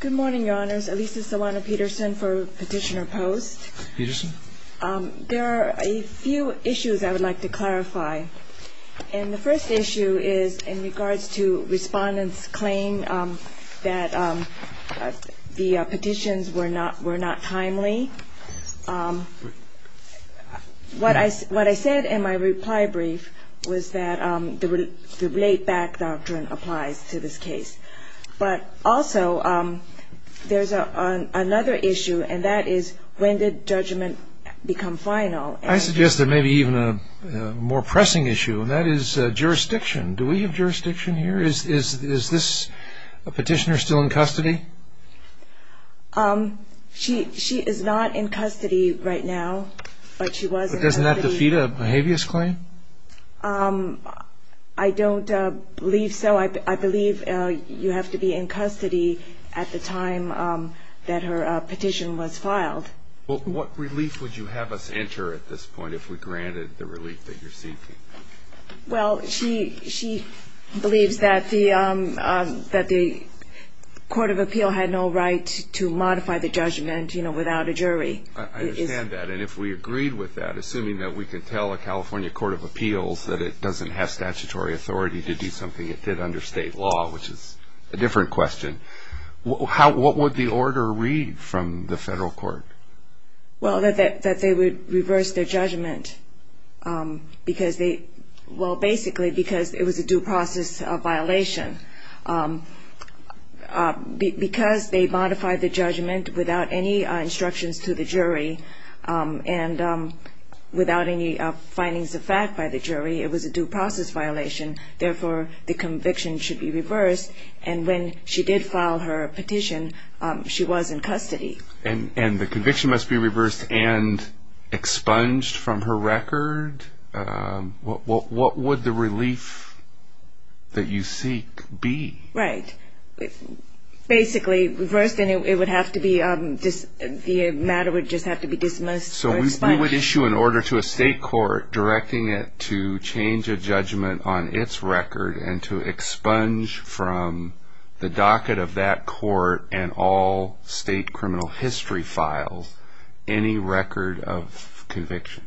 Good morning, Your Honors. Elisa Sawano-Peterson for Petitioner Post. Peterson. There are a few issues I would like to clarify. And the first issue is in regards to respondents' claim that the petitions were not timely. What I said in my reply brief was that the laid-back doctrine applies to this case. But also, there's another issue, and that is, when did judgment become final? I suggest there may be even a more pressing issue, and that is jurisdiction. Do we have jurisdiction here? Is this petitioner still in custody? She is not in custody right now. But doesn't that defeat a behaviorist claim? I don't believe so. I believe you have to be in custody at the time that her petition was filed. Well, what relief would you have us enter at this point if we granted the relief that you're seeking? Well, she believes that the Court of Appeal had no right to modify the judgment without a jury. I understand that. And if we agreed with that, assuming that we can tell a California Court of Appeals that it doesn't have statutory authority to do something it did under state law, which is a different question, what would the order read from the federal court? Well, that they would reverse their judgment because they – well, basically because it was a due process violation. Because they modified the judgment without any instructions to the jury and without any findings of fact by the jury, it was a due process violation. Therefore, the conviction should be reversed. And when she did file her petition, she was in custody. And the conviction must be reversed and expunged from her record? What would the relief that you seek be? Right. Basically reversed and it would have to be – the matter would just have to be dismissed or expunged. So we would issue an order to a state court directing it to change a judgment on its record and to expunge from the docket of that court and all state criminal history files any record of conviction?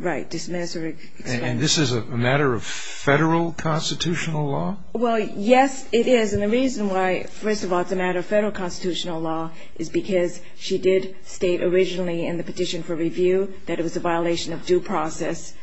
Right. Dismiss or expunge. And this is a matter of federal constitutional law? Well, yes, it is. And the reason why, first of all, it's a matter of federal constitutional law is because she did state originally in the petition for review that it was a violation of due process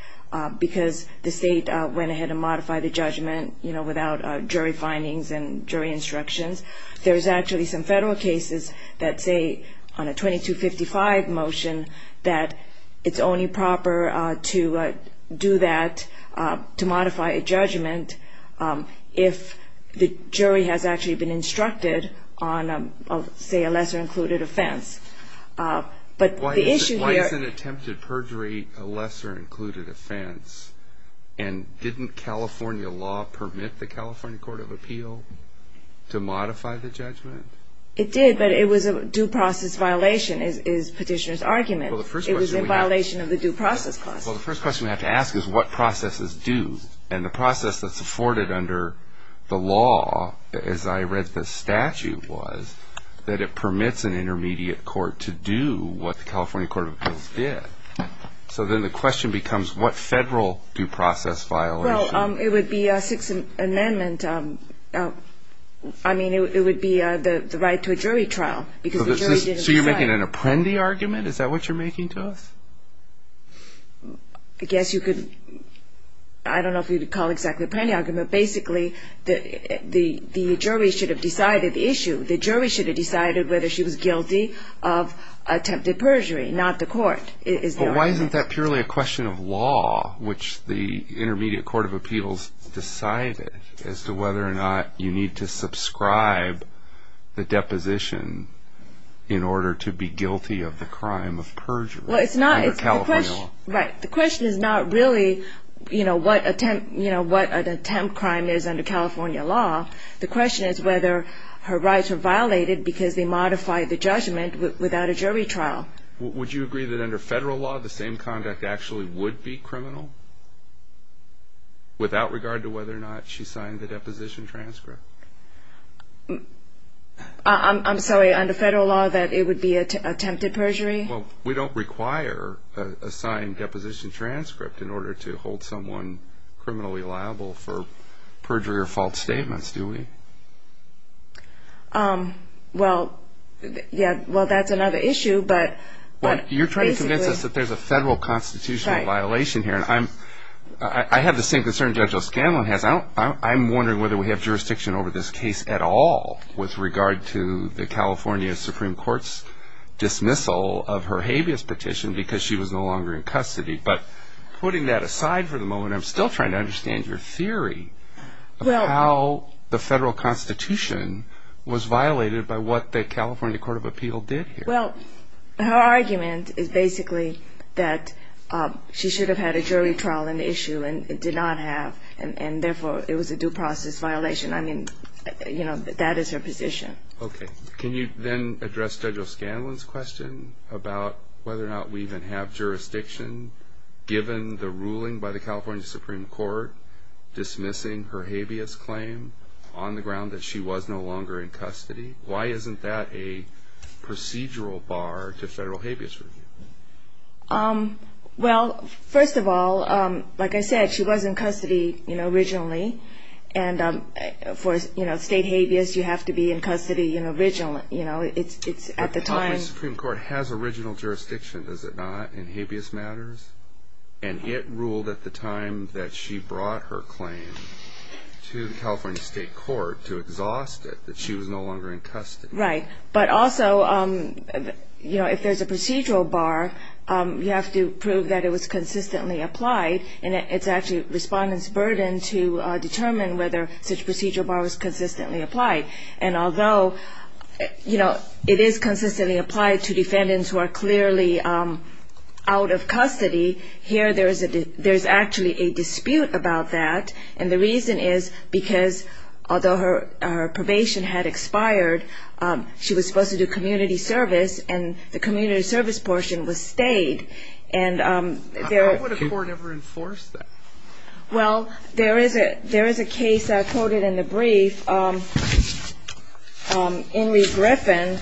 because the state went ahead and modified the judgment, you know, without jury findings and jury instructions. There's actually some federal cases that say on a 2255 motion that it's only proper to do that to modify a judgment if the jury has actually been instructed on, say, a lesser included offense. Why isn't attempted perjury a lesser included offense? And didn't California law permit the California Court of Appeal to modify the judgment? It did, but it was a due process violation is petitioner's argument. It was a violation of the due process clause. Well, the first question we have to ask is what processes do? And the process that's afforded under the law, as I read the statute was, that it permits an intermediate court to do what the California Court of Appeals did. So then the question becomes what federal due process violation? Well, it would be a Sixth Amendment. I mean, it would be the right to a jury trial because the jury didn't decide. You're saying an Apprendi argument? Is that what you're making to us? I guess you could, I don't know if you'd call exactly Apprendi argument, but basically the jury should have decided the issue. The jury should have decided whether she was guilty of attempted perjury, not the court. But why isn't that purely a question of law, which the Intermediate Court of Appeals decided as to whether or not you need to subscribe the deposition in order to be guilty of the crime of perjury? Well, it's not, it's the question, right. The question is not really, you know, what attempt, you know, what an attempt crime is under California law. The question is whether her rights were violated because they modified the judgment without a jury trial. Would you agree that under federal law the same conduct actually would be criminal without regard to whether or not she signed the deposition transcript? I'm sorry, under federal law that it would be attempted perjury? Well, we don't require a signed deposition transcript in order to hold someone criminally liable for perjury or false statements, do we? Well, yeah, well that's another issue, but... Well, you're trying to convince us that there's a federal constitutional violation here, and I have the same concern Judge O'Scanlan has. I'm wondering whether we have jurisdiction over this case at all with regard to the California Supreme Court's dismissal of her habeas petition because she was no longer in custody. But putting that aside for the moment, I'm still trying to understand your theory of how the federal constitution was violated by what the California Court of Appeal did here. Well, her argument is basically that she should have had a jury trial in the issue and did not have, and therefore it was a due process violation. I mean, you know, that is her position. Okay, can you then address Judge O'Scanlan's question about whether or not we even have jurisdiction given the ruling by the California Supreme Court dismissing her habeas claim on the ground that she was no longer in custody? Why isn't that a procedural bar to federal habeas review? Well, first of all, like I said, she was in custody originally, and for state habeas, you have to be in custody originally. The California Supreme Court has original jurisdiction, does it not, in habeas matters? And it ruled at the time that she brought her claim to the California State Court to exhaust it, that she was no longer in custody. Right, but also, you know, if there's a procedural bar, you have to prove that it was consistently applied, and it's actually respondents' burden to determine whether such procedural bar was consistently applied. And although, you know, it is consistently applied to defendants who are clearly out of custody, here there's actually a dispute about that, and the reason is because although her probation had expired, she was supposed to do community service, and the community service portion was stayed. How would a court ever enforce that? Well, there is a case that I quoted in the brief, Henry Griffin,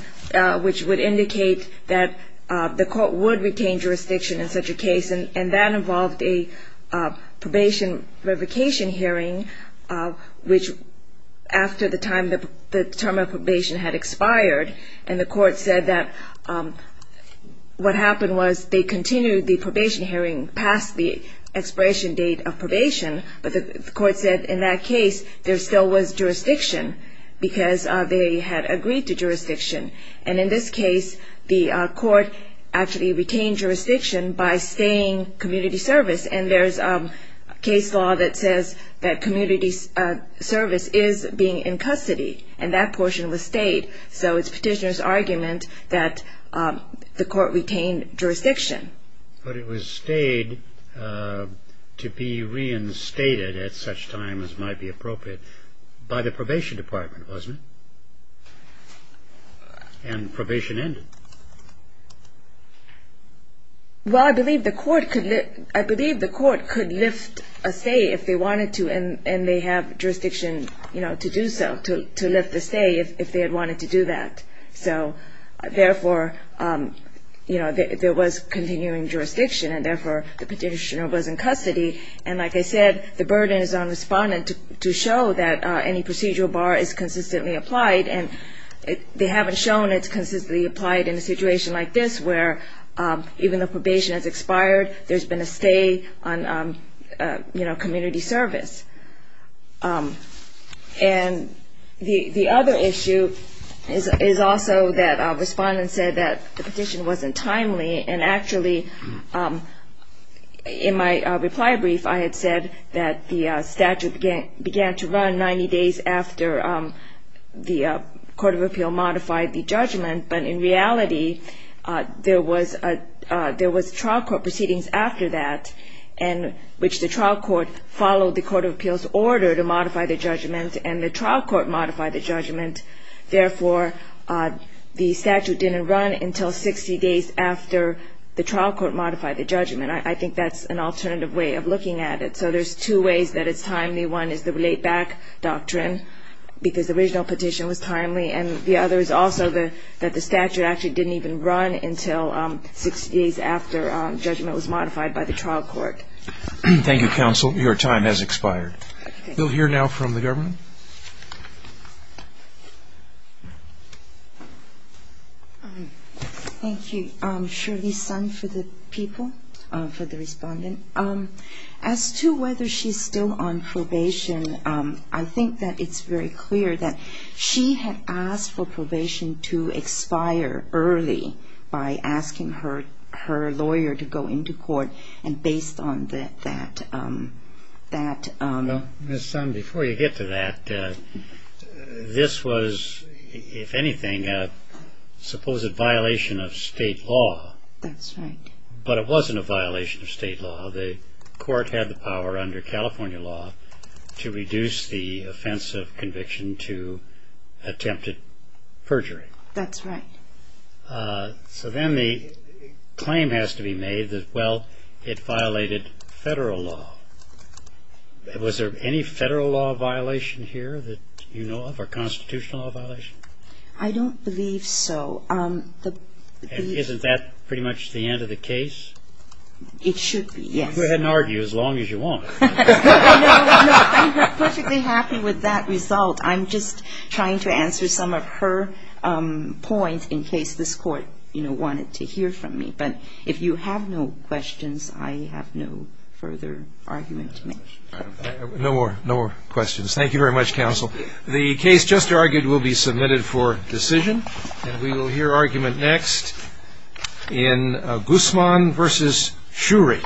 which would indicate that the court would retain jurisdiction in such a case, and that involved a probation revocation hearing, which after the time the term of probation had expired, and the court said that what happened was they continued the probation hearing past the expiration date of probation, but the court said in that case there still was jurisdiction, because they had agreed to jurisdiction. And in this case, the court actually retained jurisdiction by staying community service, and there's a case law that says that community service is being in custody, and that portion was stayed. So it's petitioner's argument that the court retained jurisdiction. But it was stayed to be reinstated at such time as might be appropriate by the probation department, wasn't it? And probation ended. Well, I believe the court could lift a stay if they wanted to, and they have jurisdiction, you know, to do so, to lift a stay if they had wanted to do that. So therefore, you know, there was continuing jurisdiction, and therefore the petitioner was in custody, and like I said, the burden is on the respondent to show that any procedural bar is consistently applied, and they haven't shown it's consistently applied in a situation like this, where even though probation has expired, there's been a stay on, you know, community service. And the other issue is also that a respondent said that the petition wasn't timely, and actually, in my reply brief, I had said that the statute began to run 90 days after the Court of Appeal modified the judgment, but in reality, there was trial court proceedings after that, in which the trial court followed the Court of Appeal's order to modify the judgment, and the trial court modified the judgment. Therefore, the statute didn't run until 60 days after the trial court modified the judgment. I think that's an alternative way of looking at it. So there's two ways that it's timely. One is the laid-back doctrine, because the original petition was timely, and the other is also that the statute actually didn't even run until 60 days after judgment was modified by the trial court. Thank you, counsel. Your time has expired. We'll hear now from the government. Thank you, Shirley Sun, for the people, for the respondent. As to whether she's still on probation, I think that it's very clear that she had asked for probation to expire early by asking her lawyer to go into court, and based on that... Ms. Sun, before you get to that, this was, if anything, a supposed violation of state law. That's right. But it wasn't a violation of state law. The court had the power under California law to reduce the offense of conviction to attempted perjury. That's right. So then the claim has to be made that, well, it violated federal law. Was there any federal law violation here that you know of, or constitutional law violation? I don't believe so. Isn't that pretty much the end of the case? It should be, yes. Go ahead and argue as long as you want. No, I'm perfectly happy with that result. I'm just trying to answer some of her points in case this Court, you know, wanted to hear from me. But if you have no questions, I have no further argument to make. No more questions. Thank you very much, counsel. The case just argued will be submitted for decision. And we will hear argument next in Guzman v. Shurey.